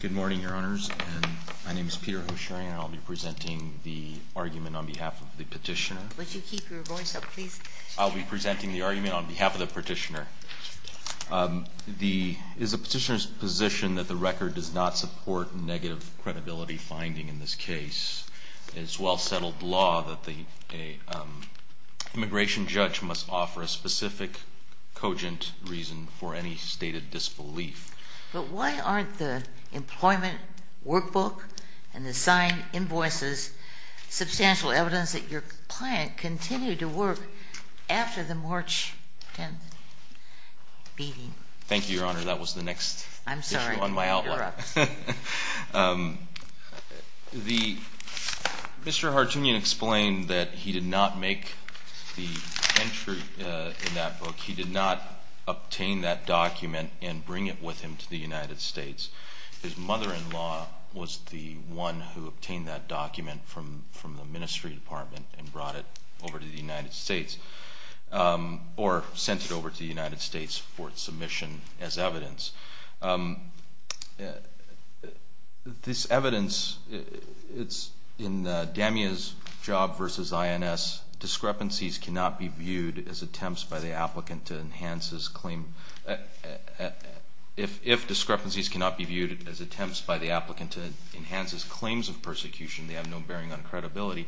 Good morning, Your Honors, and my name is Peter Hoshary, and I'll be presenting the argument on behalf of the petitioner. Would you keep your voice up, please? I'll be presenting the argument on behalf of the petitioner. It is the petitioner's position that the record does not support negative credibility finding in this case. It is well-settled law that the immigration judge must offer a specific cogent reason for any stated disbelief. But why aren't the employment workbook and the signed invoices substantial evidence that your client continued to work after the March 10th meeting? Thank you, Your Honor. That was the next issue on my outline. Mr. Harutyunyan explained that he did not make the entry in that book. He did not obtain that document and bring it with him to the United States. His mother-in-law was the one who obtained that document from the Ministry Department and brought it over to the United States, or sent it over to the United States for submission as evidence. This evidence, it's in DEMIA's job versus INS, discrepancies cannot be viewed as attempts by the applicant to enhance his claim. If discrepancies cannot be viewed as attempts by the applicant to enhance his claims of persecution, they have no bearing on credibility.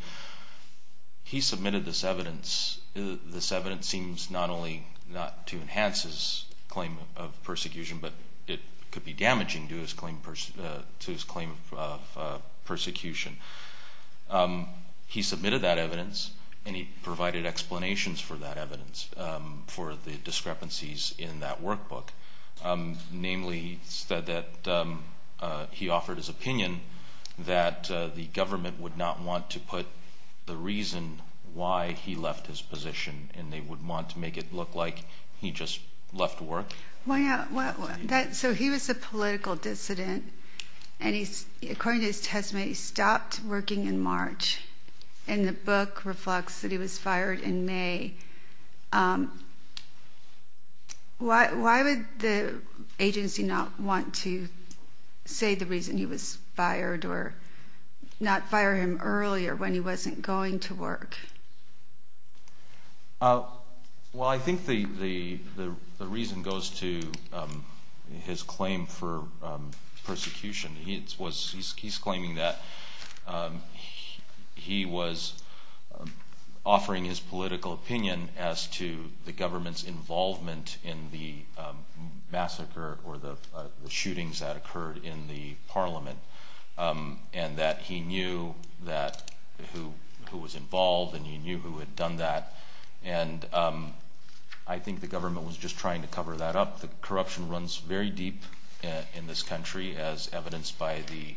He submitted this evidence. This evidence seems not only not to enhance his claim of persecution, but it could be damaging to his claim of persecution. He submitted that evidence, and he provided explanations for that evidence, for the discrepancies in that workbook. Namely, he said that he offered his opinion that the government would not want to put the reason why he left his position, and they would want to make it look like he just left work. So he was a political dissident, and according to his testimony, he stopped working in March, and the book reflects that he was fired in May. Why would the agency not want to say the reason he was fired, or not fire him earlier when he wasn't going to work? Well, I think the reason goes to his claim for persecution. He's claiming that he was offering his political opinion as to the government's involvement in the massacre or the shootings that occurred in the parliament, and that he knew who was involved, and he knew who had done that. And I think the government was just trying to cover that up. The corruption runs very deep in this country, as evidenced by the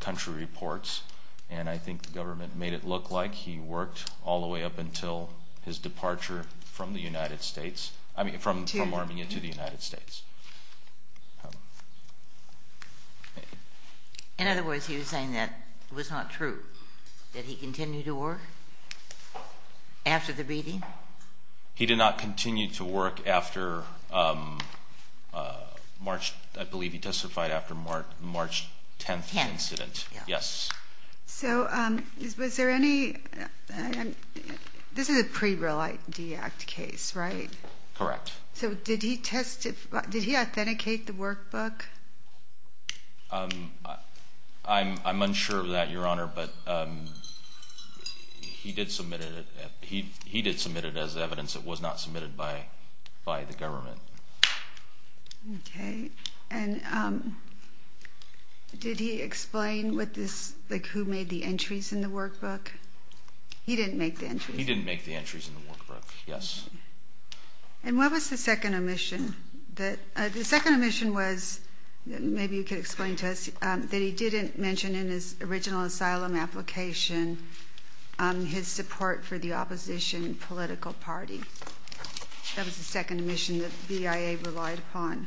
country reports, and I think the government made it look like he worked all the way up until his departure from the United States, I mean, from Armenia to the United States. In other words, he was saying that it was not true, that he continued to work after the beating? He did not continue to work after March, I believe he testified after the March 10th incident. Yes. So was there any, this is a pre-Real ID Act case, right? Correct. So did he authenticate the workbook? I'm unsure of that, Your Honor, but he did submit it as evidence. It was not submitted by the government. Okay. And did he explain who made the entries in the workbook? He didn't make the entries? He didn't make the entries in the workbook, yes. And what was the second omission? The second omission was, maybe you could explain to us, that he didn't mention in his original asylum application his support for the opposition political party. That was the second omission that the BIA relied upon.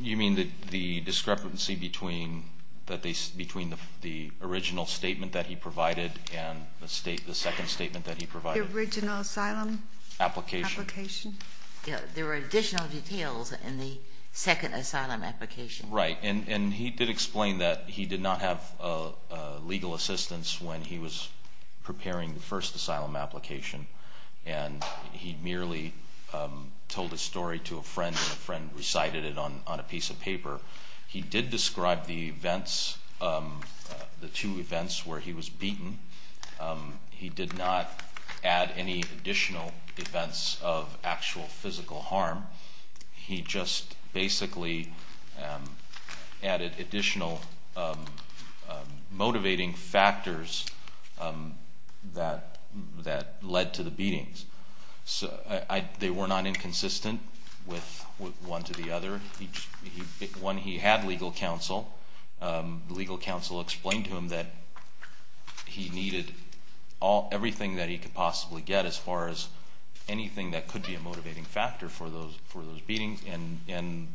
You mean the discrepancy between the original statement that he provided and the second statement that he provided? The original asylum application. There were additional details in the second asylum application. Right. And he did explain that he did not have legal assistance when he was preparing the first asylum application, and he merely told his story to a friend, and a friend recited it on a piece of paper. He did describe the events, the two events where he was beaten. He did not add any additional events of actual physical harm. He just basically added additional motivating factors that led to the beatings. They were not inconsistent with one to the other. When he had legal counsel, legal counsel explained to him that he needed everything that he could possibly get as far as anything that could be a motivating factor for those beatings, and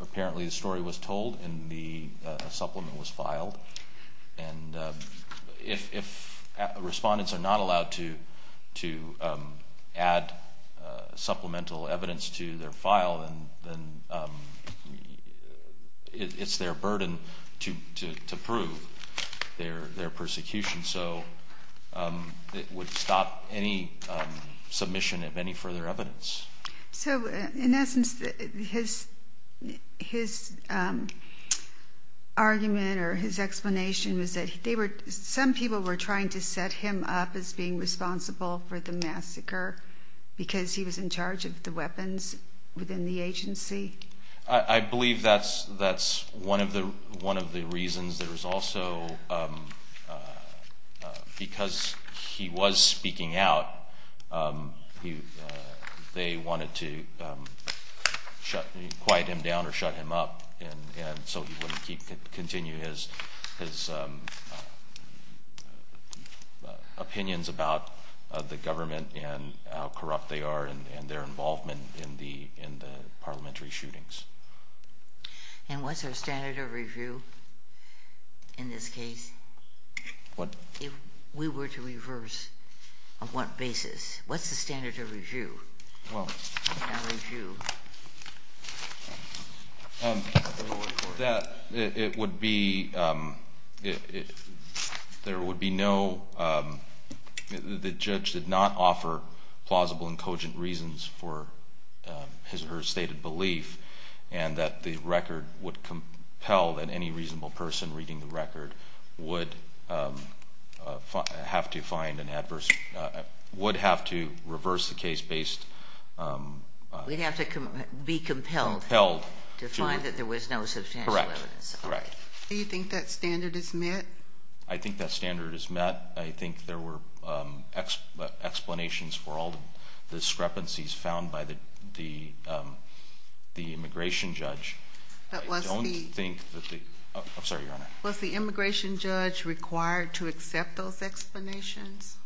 apparently the story was told and the supplement was filed. And if respondents are not allowed to add supplemental evidence to their file, then it's their burden to prove their persecution. So it would stop any submission of any further evidence. So, in essence, his argument or his explanation was that some people were trying to set him up as being responsible for the massacre because he was in charge of the weapons within the agency? I believe that's one of the reasons. There was also, because he was speaking out, they wanted to quiet him down or shut him up, and so he wouldn't continue his opinions about the government and how corrupt they are and their involvement in the parliamentary shootings. And what's our standard of review in this case? What? If we were to reverse, on what basis? What's the standard of review? That it would be, there would be no, the judge did not offer plausible and cogent reasons for his or her stated belief and that the record would compel that any reasonable person reading the record would have to find an adverse, would have to reverse the case based. We'd have to be compelled to find that there was no substantial evidence. Correct, correct. Do you think that standard is met? I think that standard is met. I think there were explanations for all the discrepancies found by the immigration judge. Was the immigration judge required to accept those explanations?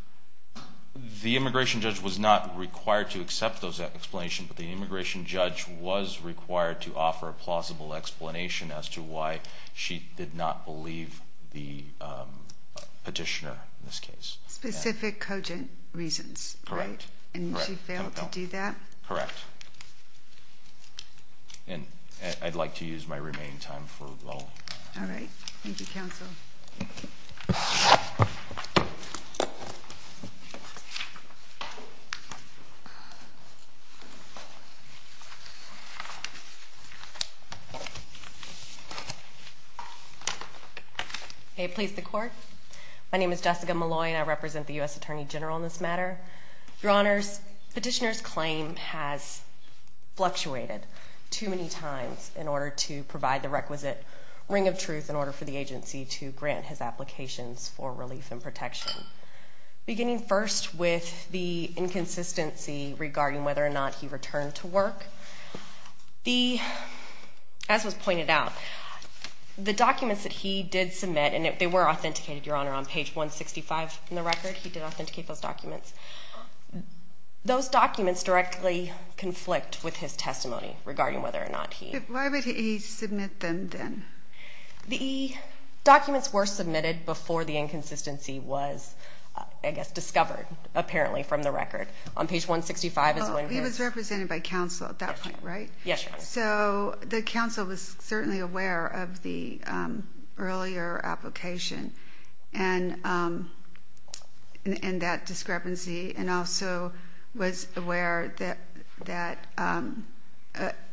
The immigration judge was not required to accept those explanations, but the immigration judge was required to offer a plausible explanation as to why she did not believe the petitioner in this case. Specific cogent reasons, right? Correct. And she failed to do that? Correct. And I'd like to use my remaining time for, well. All right. Thank you, counsel. May it please the Court? My name is Jessica Malloy and I represent the U.S. Attorney General in this matter. Your Honors, petitioner's claim has fluctuated too many times in order to provide the requisite ring of truth in order for the agency to grant his applications for relief and protection. Beginning first with the inconsistency regarding whether or not he returned to work, as was pointed out, the documents that he did submit, and they were authenticated, Your Honor, on page 165 in the record. He did authenticate those documents. Those documents directly conflict with his testimony regarding whether or not he. Why would he submit them then? The documents were submitted before the inconsistency was, I guess, discovered, apparently, from the record. On page 165 is when. He was represented by counsel at that point, right? Yes, Your Honor. So the counsel was certainly aware of the earlier application and that discrepancy and also was aware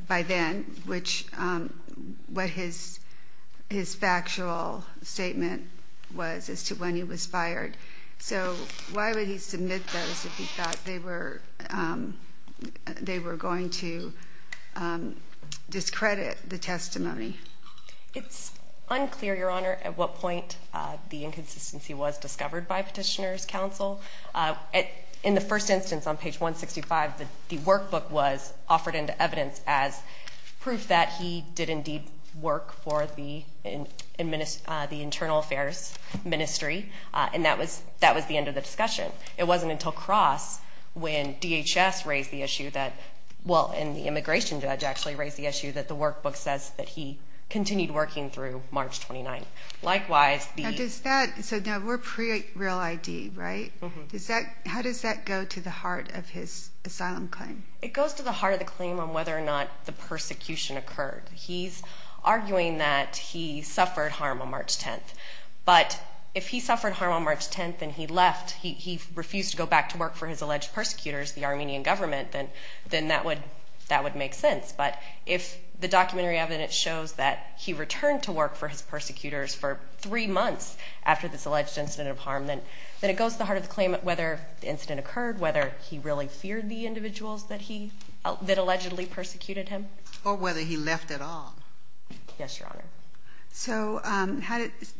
by then what his factual statement was as to when he was fired. So why would he submit those if he thought they were going to discredit the testimony? It's unclear, Your Honor, at what point the inconsistency was discovered by petitioner's counsel. In the first instance, on page 165, the workbook was offered into evidence as proof that he did indeed work for the Internal Affairs Ministry, and that was the end of the discussion. It wasn't until Cross, when DHS raised the issue that, well, and the immigration judge actually raised the issue, that the workbook says that he continued working through March 29. So now we're pre-real ID, right? How does that go to the heart of his asylum claim? It goes to the heart of the claim on whether or not the persecution occurred. He's arguing that he suffered harm on March 10th, but if he suffered harm on March 10th and he left, he refused to go back to work for his alleged persecutors, the Armenian government, then that would make sense. But if the documentary evidence shows that he returned to work for his persecutors for three months after this alleged incident of harm, then it goes to the heart of the claim on whether the incident occurred, whether he really feared the individuals that allegedly persecuted him. Or whether he left at all. Yes, Your Honor. So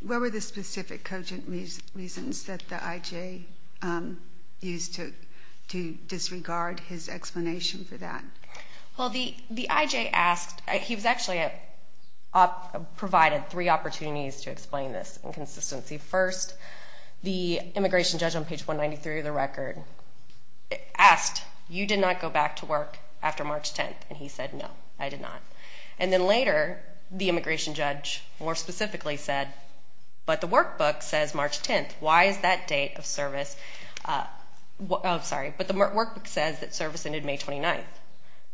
where were the specific cogent reasons that the IJ used to disregard his explanation for that? Well, the IJ asked, he was actually provided three opportunities to explain this inconsistency. First, the immigration judge on page 193 of the record asked, you did not go back to work after March 10th? And he said, no, I did not. And then later, the immigration judge more specifically said, but the workbook says March 10th. Why is that date of service, oh, sorry, but the workbook says that service ended May 29th.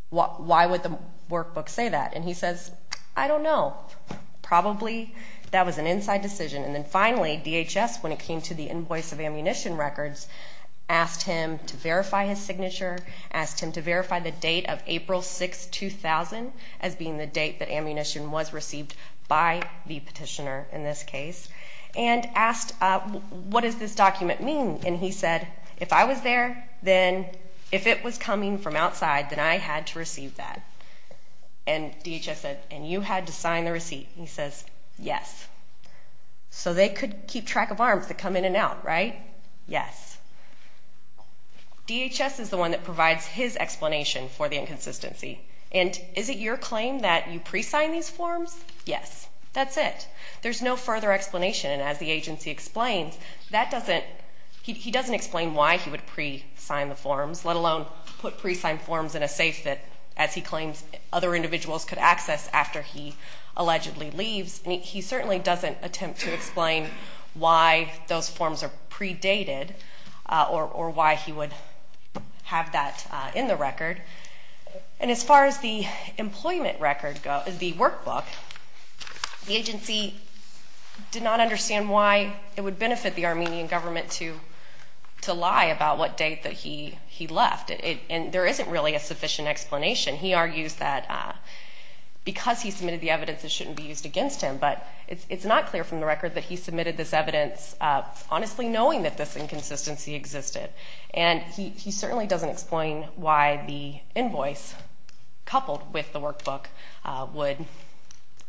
Why would the workbook say that? And he says, I don't know. Probably that was an inside decision. And then finally, DHS, when it came to the invoice of ammunition records, asked him to verify his signature, asked him to verify the date of April 6, 2000 as being the date that ammunition was received by the petitioner in this case, and asked, what does this document mean? And he said, if I was there, then if it was coming from outside, then I had to receive that. And DHS said, and you had to sign the receipt. He says, yes. So they could keep track of arms that come in and out, right? Yes. DHS is the one that provides his explanation for the inconsistency. And is it your claim that you pre-signed these forms? Yes. That's it. There's no further explanation. And as the agency explains, that doesn't he doesn't explain why he would pre-sign the forms, let alone put pre-signed forms in a safe that, as he claims, other individuals could access after he allegedly leaves. He certainly doesn't attempt to explain why those forms are predated or why he would have that in the record. And as far as the employment record, the workbook, the agency did not understand why it would benefit the Armenian government to lie about what date that he left. And there isn't really a sufficient explanation. He argues that because he submitted the evidence, it shouldn't be used against him. But it's not clear from the record that he submitted this evidence honestly knowing that this inconsistency existed. And he certainly doesn't explain why the invoice coupled with the workbook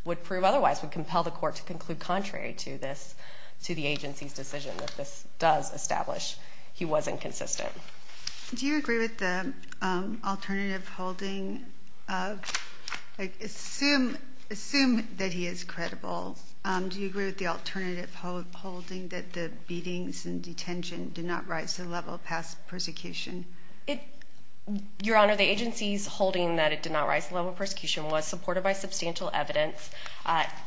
would prove otherwise, would compel the court to conclude contrary to the agency's decision that this does establish he was inconsistent. Do you agree with the alternative holding of, like, assume that he is credible? Do you agree with the alternative holding that the beatings and detention did not rise to the level of past persecution? Your Honor, the agency's holding that it did not rise to the level of persecution was supported by substantial evidence.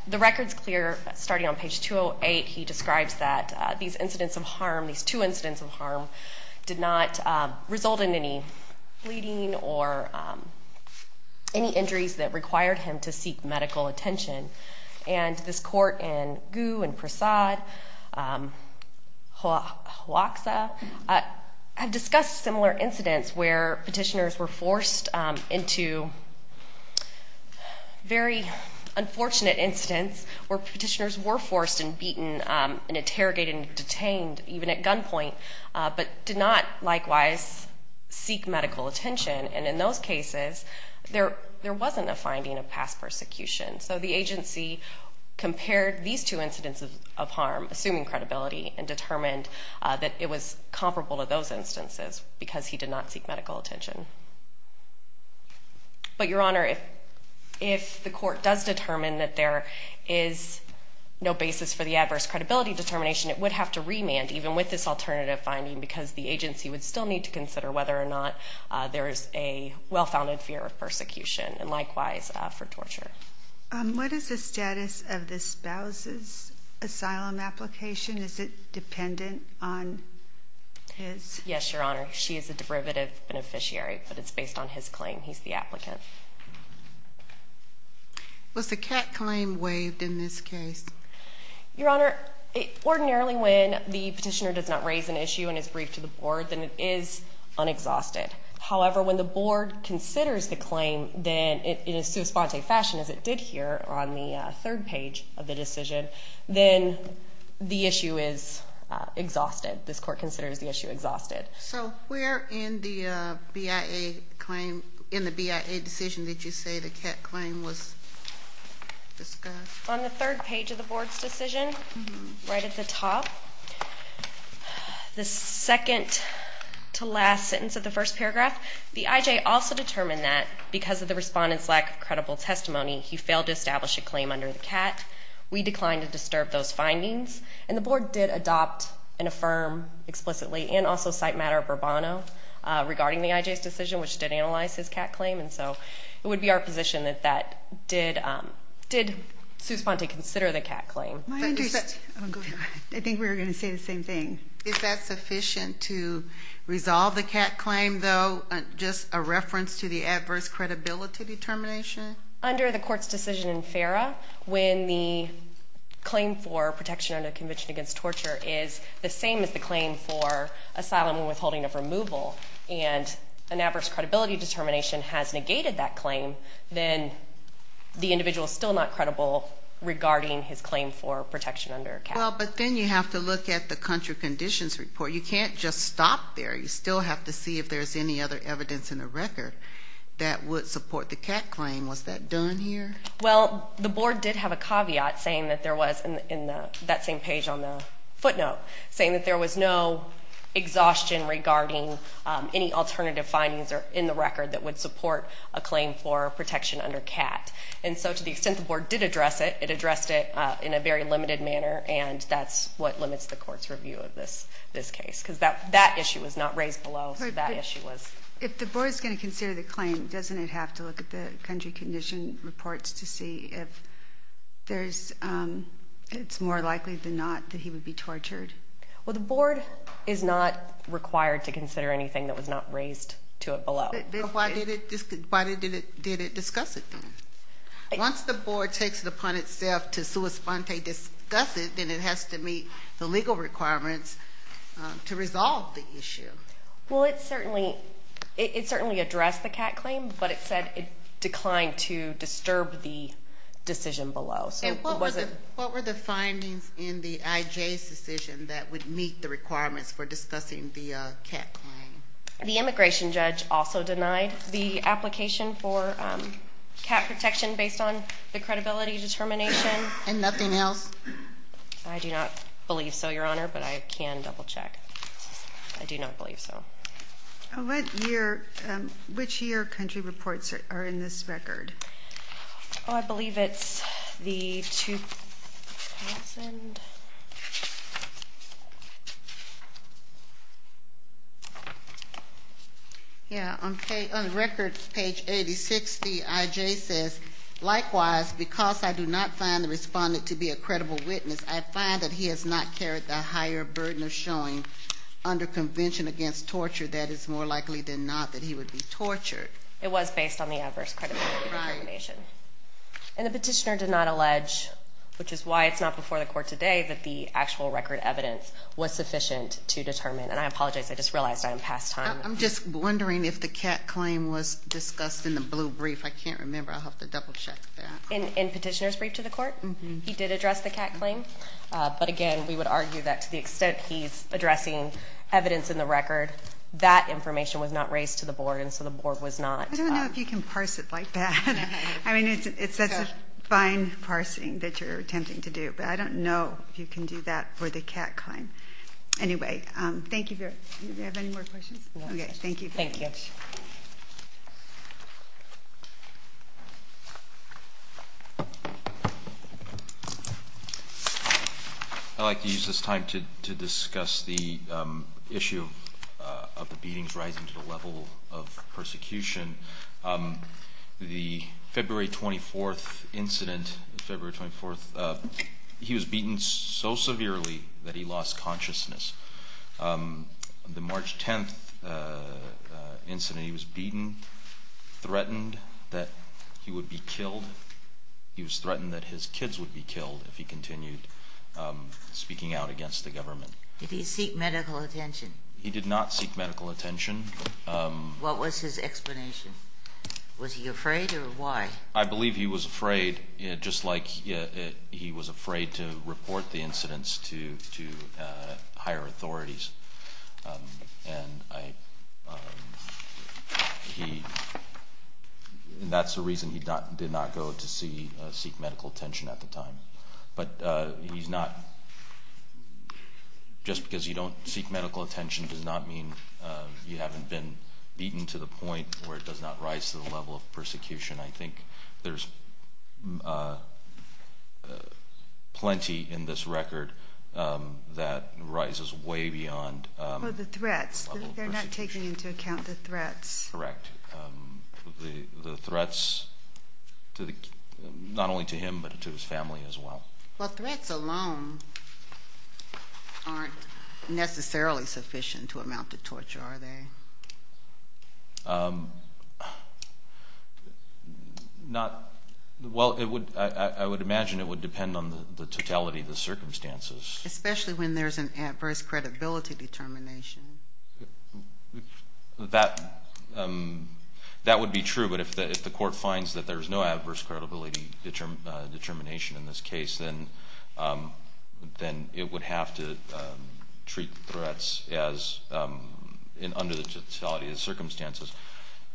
The record's clear starting on page 208. He describes that these incidents of harm, these two incidents of harm, did not result in any bleeding or any injuries that required him to seek medical attention. And this court in Gu and Prasad, Hoaxa, have discussed similar incidents where petitioners were forced into very unfortunate incidents where petitioners were forced and beaten and interrogated and detained even at gunpoint, but did not likewise seek medical attention. And in those cases, there wasn't a finding of past persecution. So the agency compared these two incidents of harm, assuming credibility, and determined that it was comparable to those instances because he did not seek medical attention. But, Your Honor, if the court does determine that there is no basis for the adverse credibility determination, it would have to remand even with this alternative finding because the agency would still need to consider whether or not there is a well-founded fear of persecution and likewise for torture. What is the status of the spouse's asylum application? Is it dependent on his? Yes, Your Honor. She is a derivative beneficiary, but it's based on his claim. He's the applicant. Was the cat claim waived in this case? Your Honor, ordinarily when the petitioner does not raise an issue and is briefed to the board, then it is unexhausted. However, when the board considers the claim in a sua sponte fashion, as it did here on the third page of the decision, then the issue is exhausted. This court considers the issue exhausted. So where in the BIA claim, in the BIA decision, did you say the cat claim was discussed? On the third page of the board's decision, right at the top. The second to last sentence of the first paragraph, the IJ also determined that because of the respondent's lack of credible testimony, he failed to establish a claim under the cat. We declined to disturb those findings, and the board did adopt and affirm explicitly and also cite matter of Urbano regarding the IJ's decision, which did analyze his cat claim, and so it would be our position that that did sua sponte consider the cat claim. I think we were going to say the same thing. Is that sufficient to resolve the cat claim, though, just a reference to the adverse credibility determination? Under the court's decision in FERA, when the claim for protection under the Convention Against Torture is the same as the claim for asylum and withholding of removal, and an adverse credibility determination has negated that claim, then the individual is still not credible regarding his claim for protection under a cat claim. Well, but then you have to look at the country conditions report. You can't just stop there. You still have to see if there's any other evidence in the record that would support the cat claim. Was that done here? Well, the board did have a caveat saying that there was in that same page on the footnote, saying that there was no exhaustion regarding any alternative findings in the record that would support a claim for protection under cat. And so to the extent the board did address it, it addressed it in a very limited manner, and that's what limits the court's review of this case because that issue was not raised below. If the board is going to consider the claim, doesn't it have to look at the country condition reports to see if it's more likely than not that he would be tortured? Well, the board is not required to consider anything that was not raised to it below. But why did it discuss it then? Once the board takes it upon itself to sua sponte discuss it, then it has to meet the legal requirements to resolve the issue. Well, it certainly addressed the cat claim, but it said it declined to disturb the decision below. What were the findings in the IJ's decision that would meet the requirements for discussing the cat claim? The immigration judge also denied the application for cat protection based on the credibility determination. And nothing else? I do not believe so, Your Honor, but I can double check. I do not believe so. Which year country reports are in this record? Oh, I believe it's the 2000. Yeah, on the record, page 8060, IJ says, likewise, because I do not find the respondent to be a credible witness, I find that he has not carried the higher burden of showing under convention against torture that it's more likely than not that he would be tortured. It was based on the adverse credibility determination. And the petitioner did not allege, which is why it's not before the court today, that the actual record evidence was sufficient to determine. And I apologize, I just realized I am past time. I'm just wondering if the cat claim was discussed in the blue brief. I can't remember. I'll have to double check that. In petitioner's brief to the court, he did address the cat claim. But, again, we would argue that to the extent he's addressing evidence in the record, that information was not raised to the board, and so the board was not. I don't know if you can parse it like that. I mean, it's such a fine parsing that you're attempting to do. But I don't know if you can do that for the cat claim. Anyway, thank you. Do we have any more questions? Okay, thank you. Thank you. Thanks. I'd like to use this time to discuss the issue of the beatings rising to the level of persecution. The February 24th incident, February 24th, he was beaten so severely that he lost consciousness. The March 10th incident, he was beaten, threatened that he would be killed. He was threatened that his kids would be killed if he continued speaking out against the government. Did he seek medical attention? He did not seek medical attention. What was his explanation? Was he afraid or why? I believe he was afraid, just like he was afraid to report the incidents to higher authorities. And that's the reason he did not go to seek medical attention at the time. But he's not, just because you don't seek medical attention does not mean you haven't been beaten to the point where it does not rise to the level of persecution. I think there's plenty in this record that rises way beyond the level of persecution. The threats, they're not taking into account the threats. Correct. The threats, not only to him, but to his family as well. Well, threats alone aren't necessarily sufficient to amount to torture, are they? Well, I would imagine it would depend on the totality of the circumstances. Especially when there's an adverse credibility determination. That would be true, but if the court finds that there's no adverse credibility determination in this case, then it would have to treat the threats under the totality of the circumstances.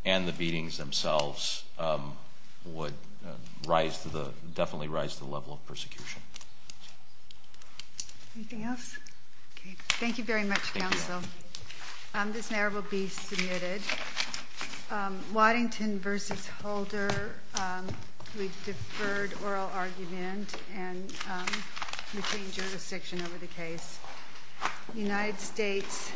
And the beatings themselves would definitely rise to the level of persecution. Anything else? Thank you very much, counsel. This now will be submitted. Waddington v. Holder, we've deferred oral argument and retained jurisdiction over the case. United States.